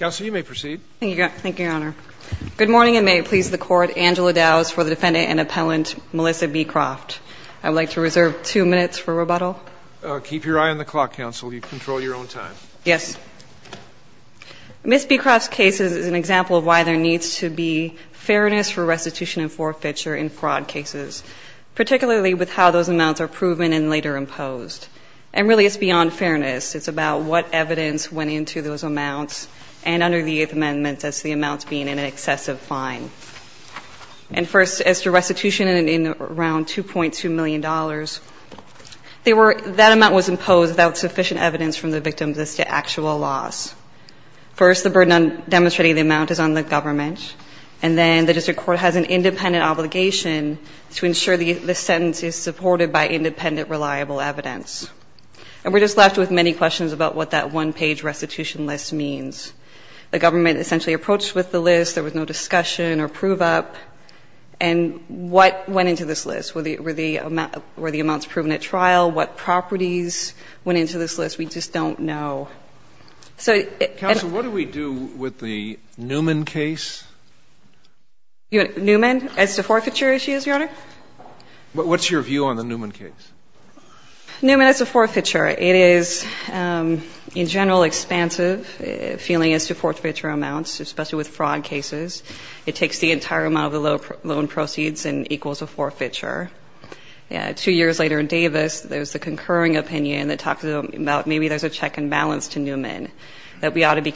Ms. Beecroft's case is an example of why there needs to be fairness for restitution and forfeiture in fraud cases, particularly with how those amounts are proven and later imposed. And really, it's beyond fairness. It's about what evidence went into those amounts, and under the Eighth Amendment, that's the amounts being in an excessive fine. And first, as to restitution in around $2.2 million, that amount was imposed without sufficient evidence from the victims as to actual loss. First, the burden on demonstrating the amount is on the government, and then the district court has an independent obligation to ensure the sentence is supported by independent, reliable evidence. And we're just left with many questions about what that one-page restitution list means. The government essentially approached with the list. There was no discussion or prove-up. And what went into this list? Were the amounts proven at trial? What properties went into this list? We just don't know. So it's an unfair case. Counsel, what do we do with the Newman case? Newman as to forfeiture issues, Your Honor? What's your view on the Newman case? Newman as to forfeiture. It is, in general, expansive, feeling as to forfeiture amounts, especially with fraud cases. It takes the entire amount of the loan proceeds and equals a forfeiture. Two years later in Davis, there was a concurring opinion that talked about maybe there's a check and balance to Newman, that we ought to be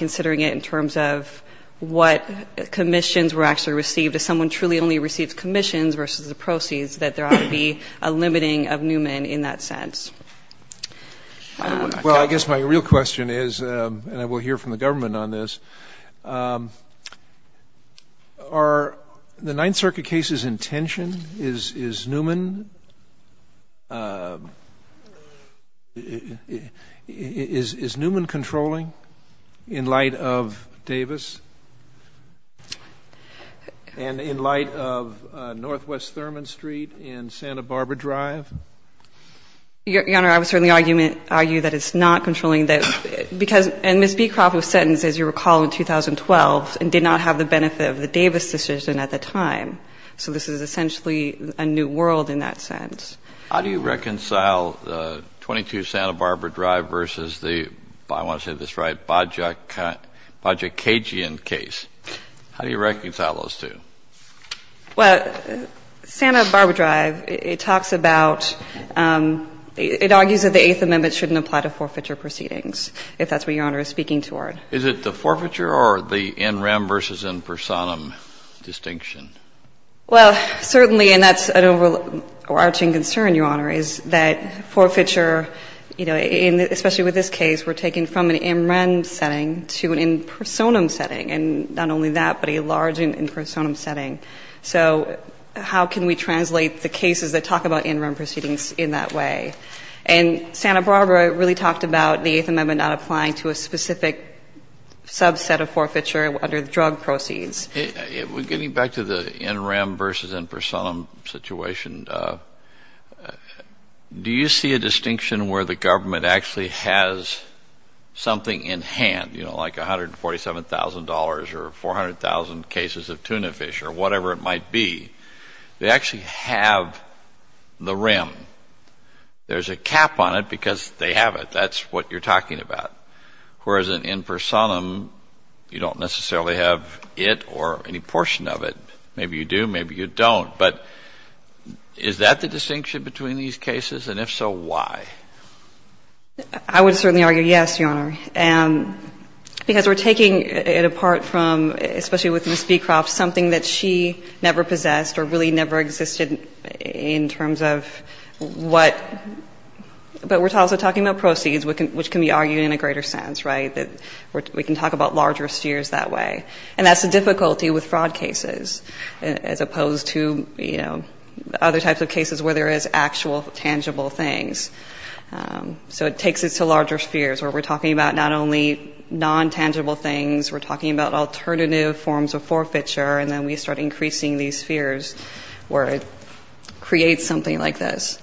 the commission's were actually received. If someone truly only receives commissions versus the proceeds, that there ought to be a limiting of Newman in that sense. Well, I guess my real question is, and I will hear from the government on this, are the Ninth Circuit case's intention is Newman controlling in light of Davis? And in light of Northwest Thurman Street in Santa Barbara Drive? Your Honor, I would certainly argue that it's not controlling that, because, and Ms. Beecroft was sentenced, as you recall, in 2012, and did not have the benefit of the Davis decision at the time. So this is essentially a new world in that sense. How do you reconcile 22 Santa Barbara Drive versus the, I want to say this right, Baja Cajun case? How do you reconcile those two? Well, Santa Barbara Drive, it talks about, it argues that the Eighth Amendment shouldn't apply to forfeiture proceedings, if that's what Your Honor is speaking toward. Is it the forfeiture or the in rem versus in personam distinction? Well, certainly, and that's an overarching concern, Your Honor, is that forfeiture, you know, especially with this case, we're taking from an in rem setting to an in personam setting, and not only that, but a large in personam setting. So how can we translate the cases that talk about in rem proceedings in that way? And Santa Barbara really talked about the Eighth Amendment not applying to a specific subset of forfeiture under the drug proceeds. Getting back to the in rem versus in personam situation, do you see a distinction where the government actually has something in hand, you know, like $147,000 or 400,000 cases of tuna fish or whatever it might be? They actually have the rem. There's a cap on it because they have it. That's what you're talking about. Whereas in in personam, you don't necessarily have it or any portion of it. Maybe you do, maybe you don't. But is that the distinction between these cases? And if so, why? I would certainly argue yes, Your Honor, because we're taking it apart from, especially with Ms. Beecroft, something that she never possessed or really never existed in terms of what, but we're also talking about proceeds, which can be argued in a greater sense, right, that we can talk about larger steers that way. And that's the difficulty with fraud cases, as opposed to, you know, other types of cases where there is actual tangible things. So it takes us to larger spheres where we're talking about not only non-tangible things, we're talking about alternative forms of forfeiture, and then we start increasing these spheres where it creates something like this.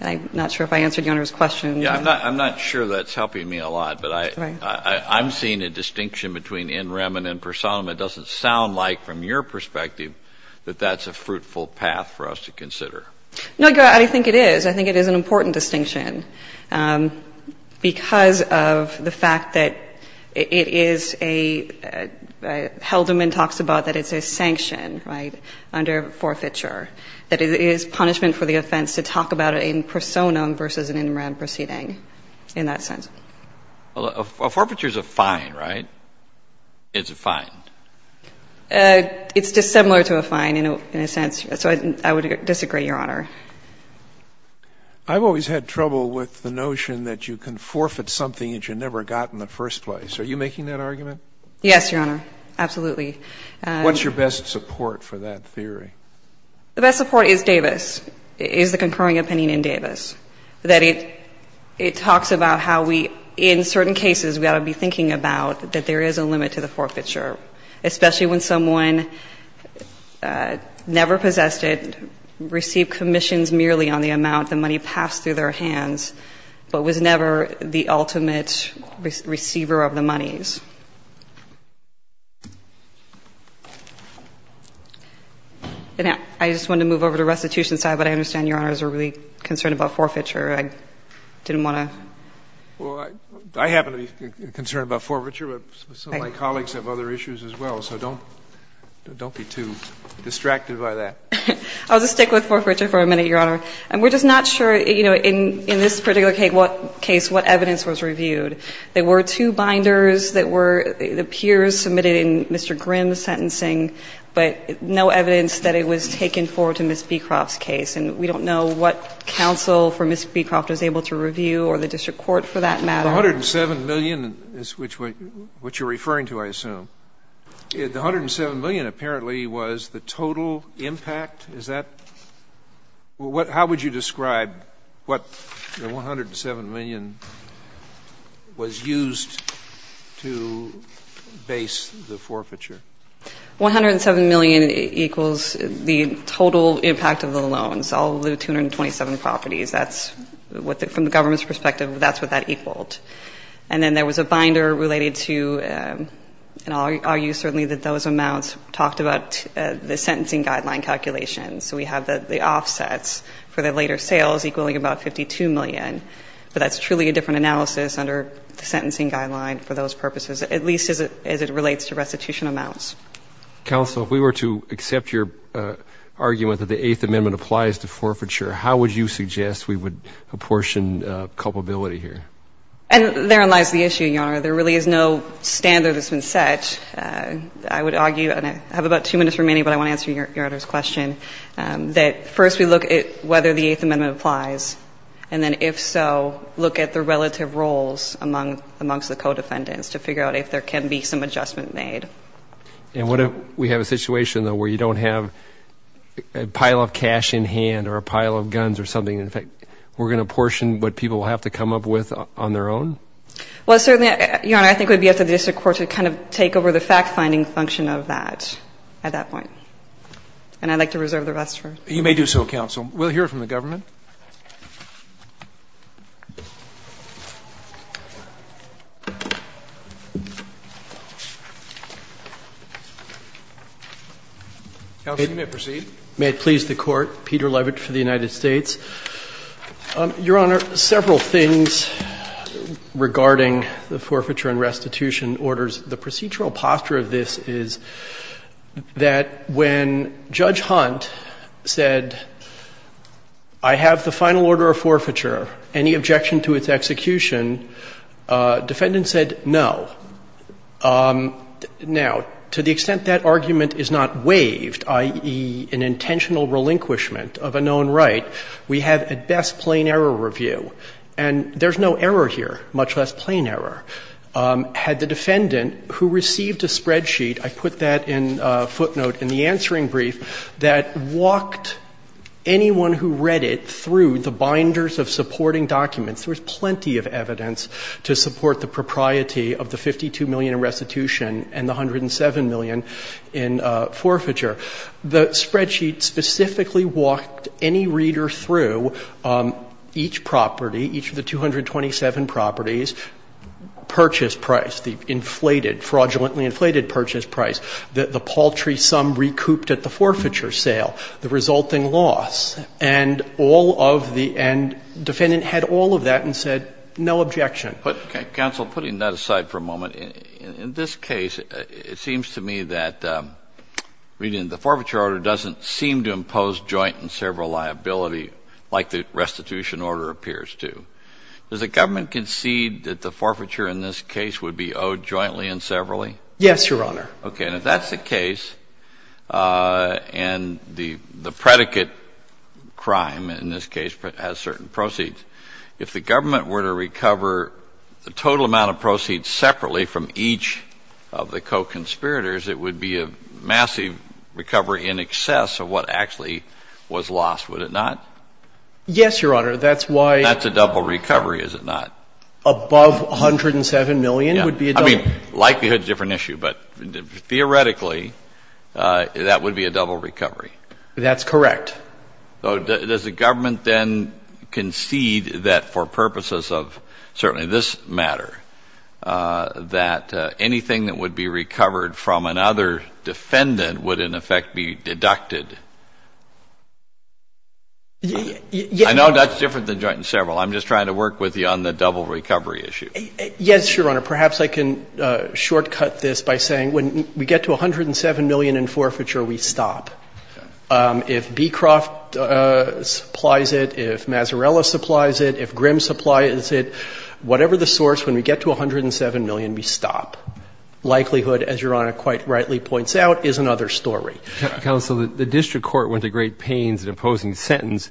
I'm not sure if I answered Your Honor's question. I'm not sure that's helping me a lot, but I'm seeing a distinction between in rem and in personam. It doesn't sound like, from your perspective, that that's a fruitful path for us to consider. No, Your Honor, I think it is. I think it is an important distinction because of the fact that it is a — Helderman talks about that it's a sanction, right, under forfeiture, that it is punishment for the offense to talk about it in personam versus an in rem proceeding in that sense. Well, a forfeiture is a fine, right? It's a fine. It's dissimilar to a fine in a sense. So I would disagree, Your Honor. I've always had trouble with the notion that you can forfeit something that you never got in the first place. Are you making that argument? Yes, Your Honor, absolutely. What's your best support for that theory? The best support is Davis, is the concurring opinion in Davis, that it talks about how we, in certain cases, we ought to be thinking about that there is a limit to the forfeiture, especially when someone never possessed it, received commissions merely on the amount the money passed through their hands, but was never the ultimate receiver of the monies. And I just wanted to move over to restitution side, but I understand, Your Honor, that you and your partners are really concerned about forfeiture. I didn't want to. Well, I happen to be concerned about forfeiture, but some of my colleagues have other issues as well. So don't be too distracted by that. I'll just stick with forfeiture for a minute, Your Honor. We're just not sure, you know, in this particular case what evidence was reviewed. There were two binders that were, it appears, submitted in Mr. Grimm's sentencing, but no evidence that it was taken forward to Ms. Beecroft's case. And we don't know what counsel for Ms. Beecroft was able to review or the district court for that matter. The $107 million is what you're referring to, I assume. The $107 million apparently was the total impact. Is that? How would you describe what the $107 million was used to base the forfeiture? $107 million equals the total impact of the loans, all of the 227 properties. That's what, from the government's perspective, that's what that equaled. And then there was a binder related to, and I'll argue certainly that those amounts talked about the sentencing guideline calculations. So we have the offsets for the later sales equaling about $52 million. But that's truly a different analysis under the sentencing guideline for those purposes, at least as it relates to restitution amounts. Counsel, if we were to accept your argument that the Eighth Amendment applies to forfeiture, how would you suggest we would apportion culpability here? And therein lies the issue, Your Honor. There really is no standard that's been set. I would argue, and I have about two minutes remaining, but I want to answer Your Honor's question, that first we look at whether the Eighth Amendment applies, and then if so, look at the relative roles amongst the co-defendants to figure out if there can be some adjustment made. And what if we have a situation, though, where you don't have a pile of cash in hand or a pile of guns or something? In fact, we're going to portion what people have to come up with on their own? Well, certainly, Your Honor, I think it would be up to the district court to kind of take over the fact-finding function of that at that point. And I'd like to reserve the rest for you. You may do so, Counsel. We'll hear from the government. Counsel, you may proceed. May it please the Court. Peter Levitch for the United States. Your Honor, several things regarding the forfeiture and restitution orders. The procedural posture of this is that when Judge Hunt said, I have the final order of forfeiture, any objection to its execution, defendant said no. Now, to the extent that argument is not waived, i.e., an intentional relinquishment of a known right, we have at best plain error review. And there's no error here, much less plain error. Had the defendant, who received a spreadsheet, I put that in footnote in the answering brief, that walked anyone who read it through the binders of supporting documents there was plenty of evidence to support the propriety of the $52 million in restitution and the $107 million in forfeiture. The spreadsheet specifically walked any reader through each property, each of the 227 properties, purchase price, the inflated, fraudulently inflated purchase price, the paltry sum recouped at the forfeiture sale, the resulting loss. And all of the end, defendant had all of that and said no objection. Counsel, putting that aside for a moment, in this case, it seems to me that reading the forfeiture order doesn't seem to impose joint and several liability like the restitution order appears to. Does the government concede that the forfeiture in this case would be owed jointly and severally? Yes, Your Honor. Okay. And if that's the case, and the predicate crime in this case has certain proceeds, if the government were to recover the total amount of proceeds separately from each of the co-conspirators, it would be a massive recovery in excess of what actually was lost, would it not? Yes, Your Honor. That's why. That's a double recovery, is it not? Above $107 million would be a double. Yeah. I mean, likelihood is a different issue, but theoretically, that would be a double recovery. That's correct. Does the government then concede that for purposes of certainly this matter, that anything that would be recovered from another defendant would in effect be deducted from the total amount? I know that's different than joint and several. I'm just trying to work with you on the double recovery issue. Yes, Your Honor. Perhaps I can shortcut this by saying when we get to $107 million in forfeiture, we stop. If Beecroft supplies it, if Mazzarella supplies it, if Grimm supplies it, whatever the source, when we get to $107 million, we stop. Likelihood, as Your Honor quite rightly points out, is another story. Counsel, the district court went to great pains in opposing the sentence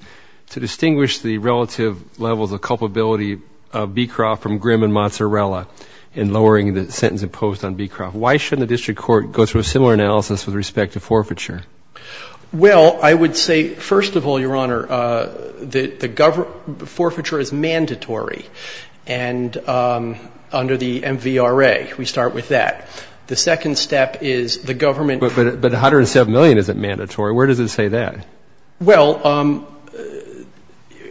to distinguish the relative levels of culpability of Beecroft from Grimm and Mazzarella in lowering the sentence imposed on Beecroft. Why shouldn't the district court go through a similar analysis with respect to forfeiture? Well, I would say, first of all, Your Honor, the forfeiture is mandatory. And under the MVRA, we start with that. The second step is the government — But $107 million isn't mandatory. Where does it say that? Well,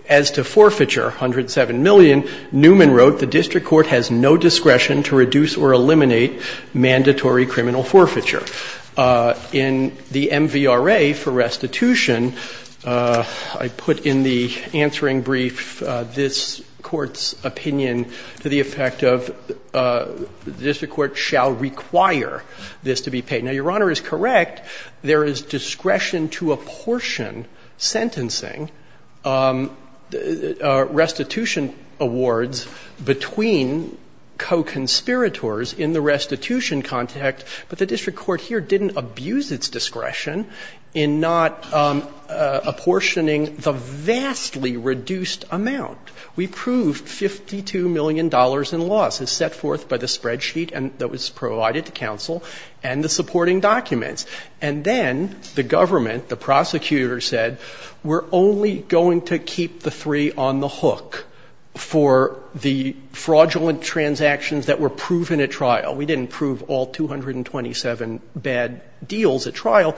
as to forfeiture, $107 million, Newman wrote the district court has no discretion to reduce or eliminate mandatory criminal forfeiture. In the MVRA for restitution, I put in the answering brief this Court's opinion to the effect of the district court shall require this to be paid. Now, Your Honor is correct. There is discretion to apportion sentencing restitution awards between co-conspirators in the restitution context, but the district court here didn't abuse its discretion in not apportioning the vastly reduced amount. We proved $52 million in loss as set forth by the spreadsheet that was provided to counsel and the supporting documents. And then the government, the prosecutor, said we're only going to keep the three on the hook for the fraudulent transactions that were proven at trial. We didn't prove all 227 bad deals at trial,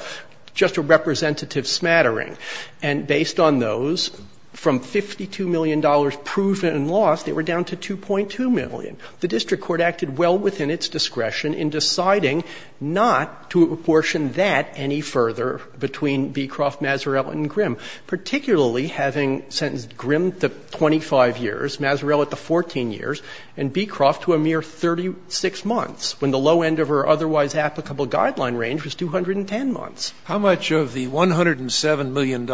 just a representative smattering. And based on those, from $52 million proven in loss, they were down to 2.2 million. The district court acted well within its discretion in deciding not to apportion that any further between Beecroft, Maserell, and Grimm, particularly having sentenced Grimm the 25 years, Maserell at the 14 years, and Beecroft to a mere 36 months, when the low end of her otherwise applicable guideline range was 210 months. Scalia, How much of the $107 million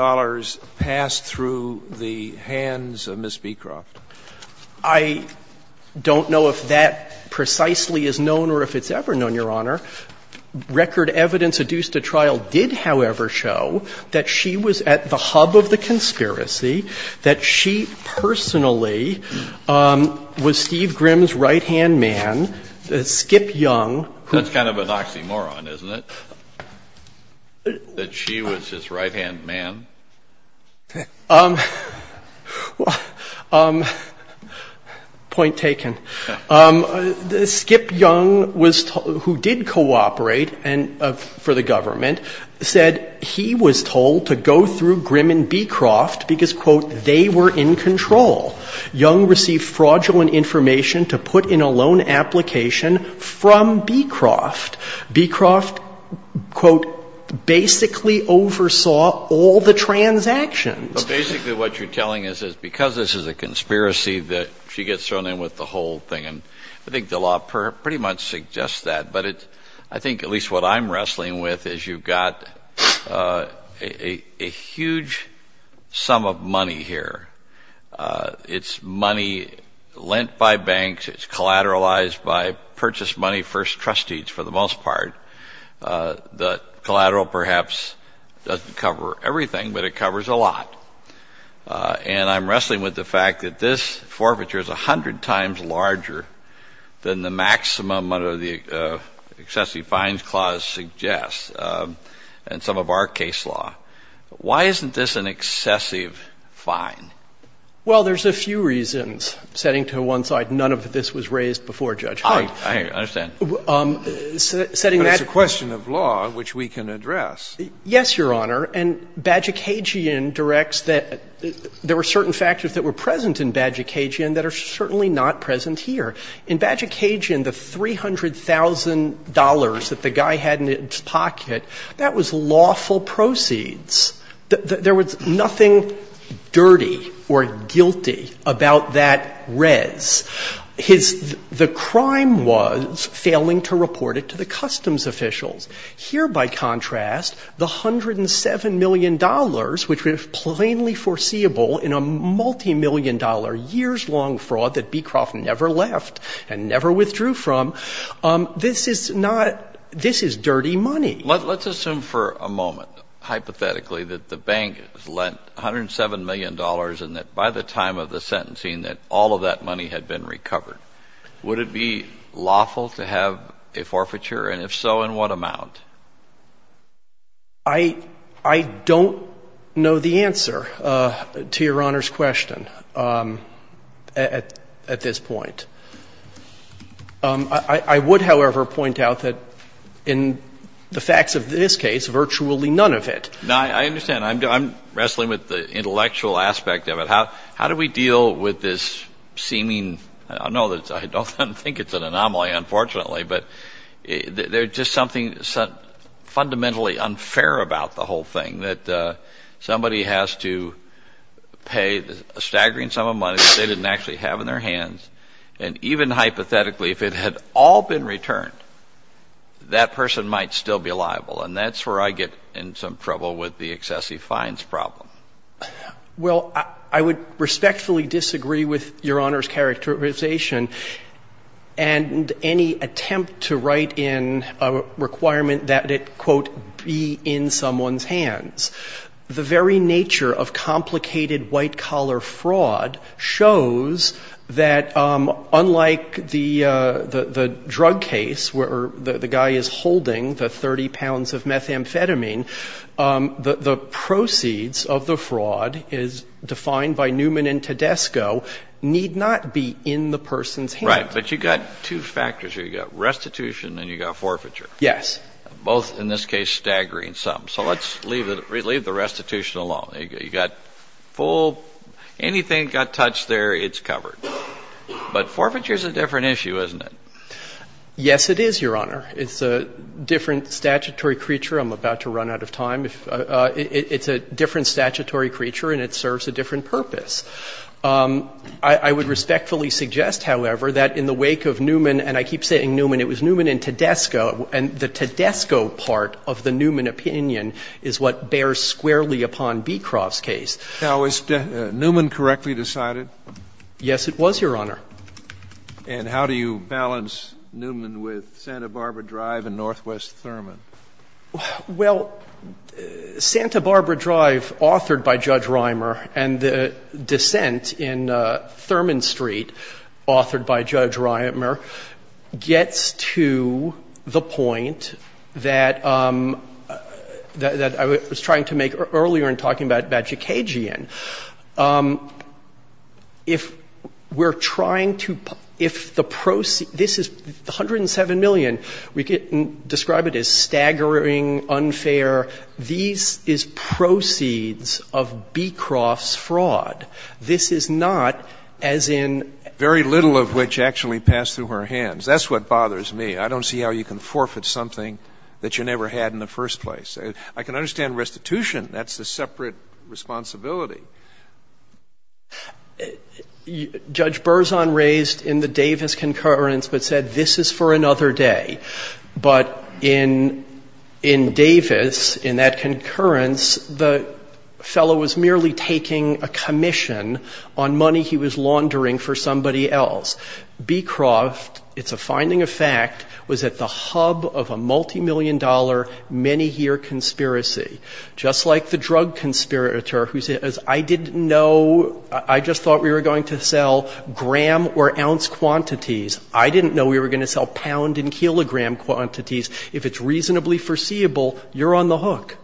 passed through the hands of Ms. Beecroft? I don't know if that precisely is known or if it's ever known, Your Honor. Record evidence adduced at trial did, however, show that she was at the hub of the conspiracy, that she personally was Steve Grimm's right-hand man, Skip Young. That's kind of an oxymoron, isn't it, that she was his right-hand man? Point taken. Skip Young, who did cooperate for the government, said he was told to go through Grimm and Beecroft because, quote, they were in control. Young received fraudulent information to put in a loan application from Beecroft. Beecroft, quote, basically oversaw all the transactions. But basically what you're telling us is because this is a conspiracy that she gets thrown in with the whole thing, and I think the law pretty much suggests that, but I think at least what I'm wrestling with is you've got a huge sum of money here. It's money lent by banks. It's collateralized by purchased money first trustees for the most part. The collateral perhaps doesn't cover everything, but it covers a lot. And I'm wrestling with the fact that this forfeiture is 100 times larger than the maximum of the excessive fines clause suggests in some of our case law. Why isn't this an excessive fine? Well, there's a few reasons. First, setting to one side, none of this was raised before Judge Hunt. I understand. But it's a question of law, which we can address. Yes, Your Honor. And Bajicagian directs that there were certain factors that were present in Bajicagian that are certainly not present here. In Bajicagian, the $300,000 that the guy had in his pocket, that was lawful proceeds. There was nothing dirty or guilty about that res. His — the crime was failing to report it to the customs officials. Here, by contrast, the $107 million, which was plainly foreseeable in a multimillion-dollar years-long fraud that Beecroft never left and never withdrew from, this is not — this is dirty money. Let's assume for a moment, hypothetically, that the bank lent $107 million and that by the time of the sentencing that all of that money had been recovered. Would it be lawful to have a forfeiture? And if so, in what amount? I don't know the answer to Your Honor's question at this point. I would, however, point out that in the facts of this case, virtually none of it. Now, I understand. I'm wrestling with the intellectual aspect of it. How do we deal with this seeming — I don't know. I don't think it's an anomaly, unfortunately. But there's just something fundamentally unfair about the whole thing, that somebody has to pay a staggering sum of money that they didn't actually have in their hands and even hypothetically, if it had all been returned, that person might still be liable. And that's where I get in some trouble with the excessive fines problem. Well, I would respectfully disagree with Your Honor's characterization and any attempt to write in a requirement that it, quote, be in someone's hands. The very nature of complicated white-collar fraud shows that unlike the drug case where the guy is holding the 30 pounds of methamphetamine, the proceeds of the fraud, as defined by Newman and Tedesco, need not be in the person's hands. Right. But you've got two factors here. You've got restitution and you've got forfeiture. Yes. Both, in this case, staggering sums. So let's leave the restitution alone. You've got full, anything got touched there, it's covered. But forfeiture is a different issue, isn't it? Yes, it is, Your Honor. It's a different statutory creature. I'm about to run out of time. It's a different statutory creature and it serves a different purpose. I would respectfully suggest, however, that in the wake of Newman, and I keep saying Newman, it was Newman and Tedesco, and the Tedesco part of the Newman opinion is what bears squarely upon Beecroft's case. Now, is Newman correctly decided? Yes, it was, Your Honor. And how do you balance Newman with Santa Barbara Drive and Northwest Thurman? Well, Santa Barbara Drive, authored by Judge Reimer, and the dissent in Thurman Street, authored by Judge Reimer, gets to the point that I was trying to make earlier in talking about Jacagian. If we're trying to – if the – this is 107 million. We could describe it as staggering, unfair. These is proceeds of Beecroft's fraud. This is not, as in – Very little of which actually passed through her hands. That's what bothers me. I don't see how you can forfeit something that you never had in the first place. I can understand restitution. That's a separate responsibility. Judge Berzon raised in the Davis concurrence but said this is for another day. But in Davis, in that concurrence, the fellow was merely taking a commission on money he was laundering for somebody else. Beecroft, it's a finding of fact, was at the hub of a multimillion-dollar, many-year conspiracy, just like the drug conspirator who said, I didn't know – I just thought we were going to sell gram or ounce quantities. I didn't know we were going to sell pound and kilogram quantities. If it's reasonably foreseeable, you're on the hook.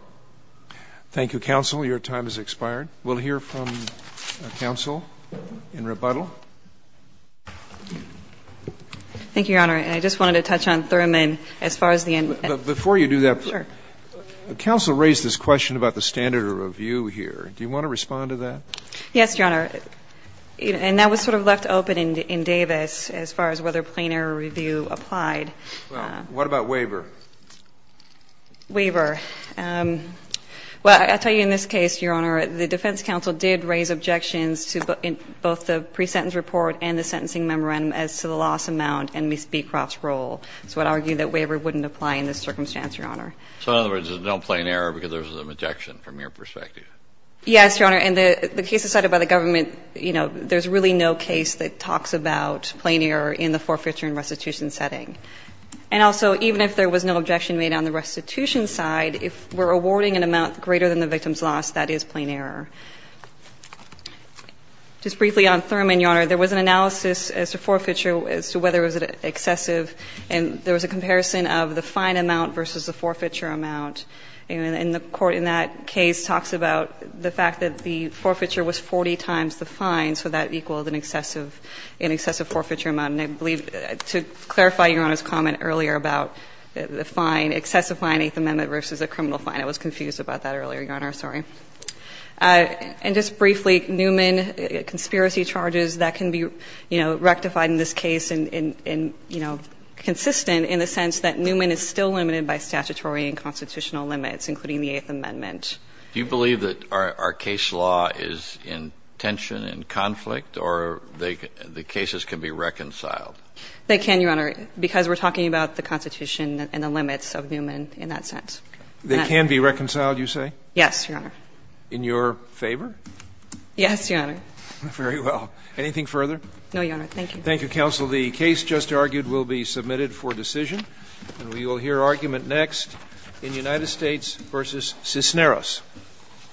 Thank you, counsel. Your time has expired. We'll hear from counsel in rebuttal. Thank you, Your Honor. I just wanted to touch on Thurman as far as the end. Before you do that, counsel raised this question about the standard of review Do you want to respond to that? Yes, Your Honor. And that was sort of left open in Davis as far as whether plain error review applied. Well, what about waiver? Waiver. Well, I'll tell you in this case, Your Honor, the defense counsel did raise objections to both the pre-sentence report and the sentencing memorandum as to the loss amount and Ms. Beecroft's role. So I'd argue that waiver wouldn't apply in this circumstance, Your Honor. So in other words, there's no plain error because there's an objection from your perspective? Yes, Your Honor. And the case decided by the government, you know, there's really no case that talks about plain error in the forfeiture and restitution setting. And also, even if there was no objection made on the restitution side, if we're awarding an amount greater than the victim's loss, that is plain error. Just briefly on Thurman, Your Honor, there was an analysis as to forfeiture as to whether it was excessive, and there was a comparison of the fine amount versus the forfeiture amount. And the Court in that case talks about the fact that the forfeiture was 40 times the fine, so that equaled an excessive forfeiture amount. And I believe, to clarify Your Honor's comment earlier about the fine, excessive fine, Eighth Amendment versus a criminal fine. I was confused about that earlier, Your Honor. Sorry. And just briefly, Newman, conspiracy charges, that can be, you know, rectified in this case and, you know, consistent in the sense that Newman is still limited by statutory and constitutional limits, including the Eighth Amendment. Do you believe that our case law is in tension and conflict, or the cases can be reconciled? They can, Your Honor, because we're talking about the Constitution and the limits of Newman in that sense. They can be reconciled, you say? Yes, Your Honor. In your favor? Yes, Your Honor. Very well. Anything further? No, Your Honor. Thank you. Thank you, counsel. The case just argued will be submitted for decision. And we will hear argument next in United States versus Cisneros.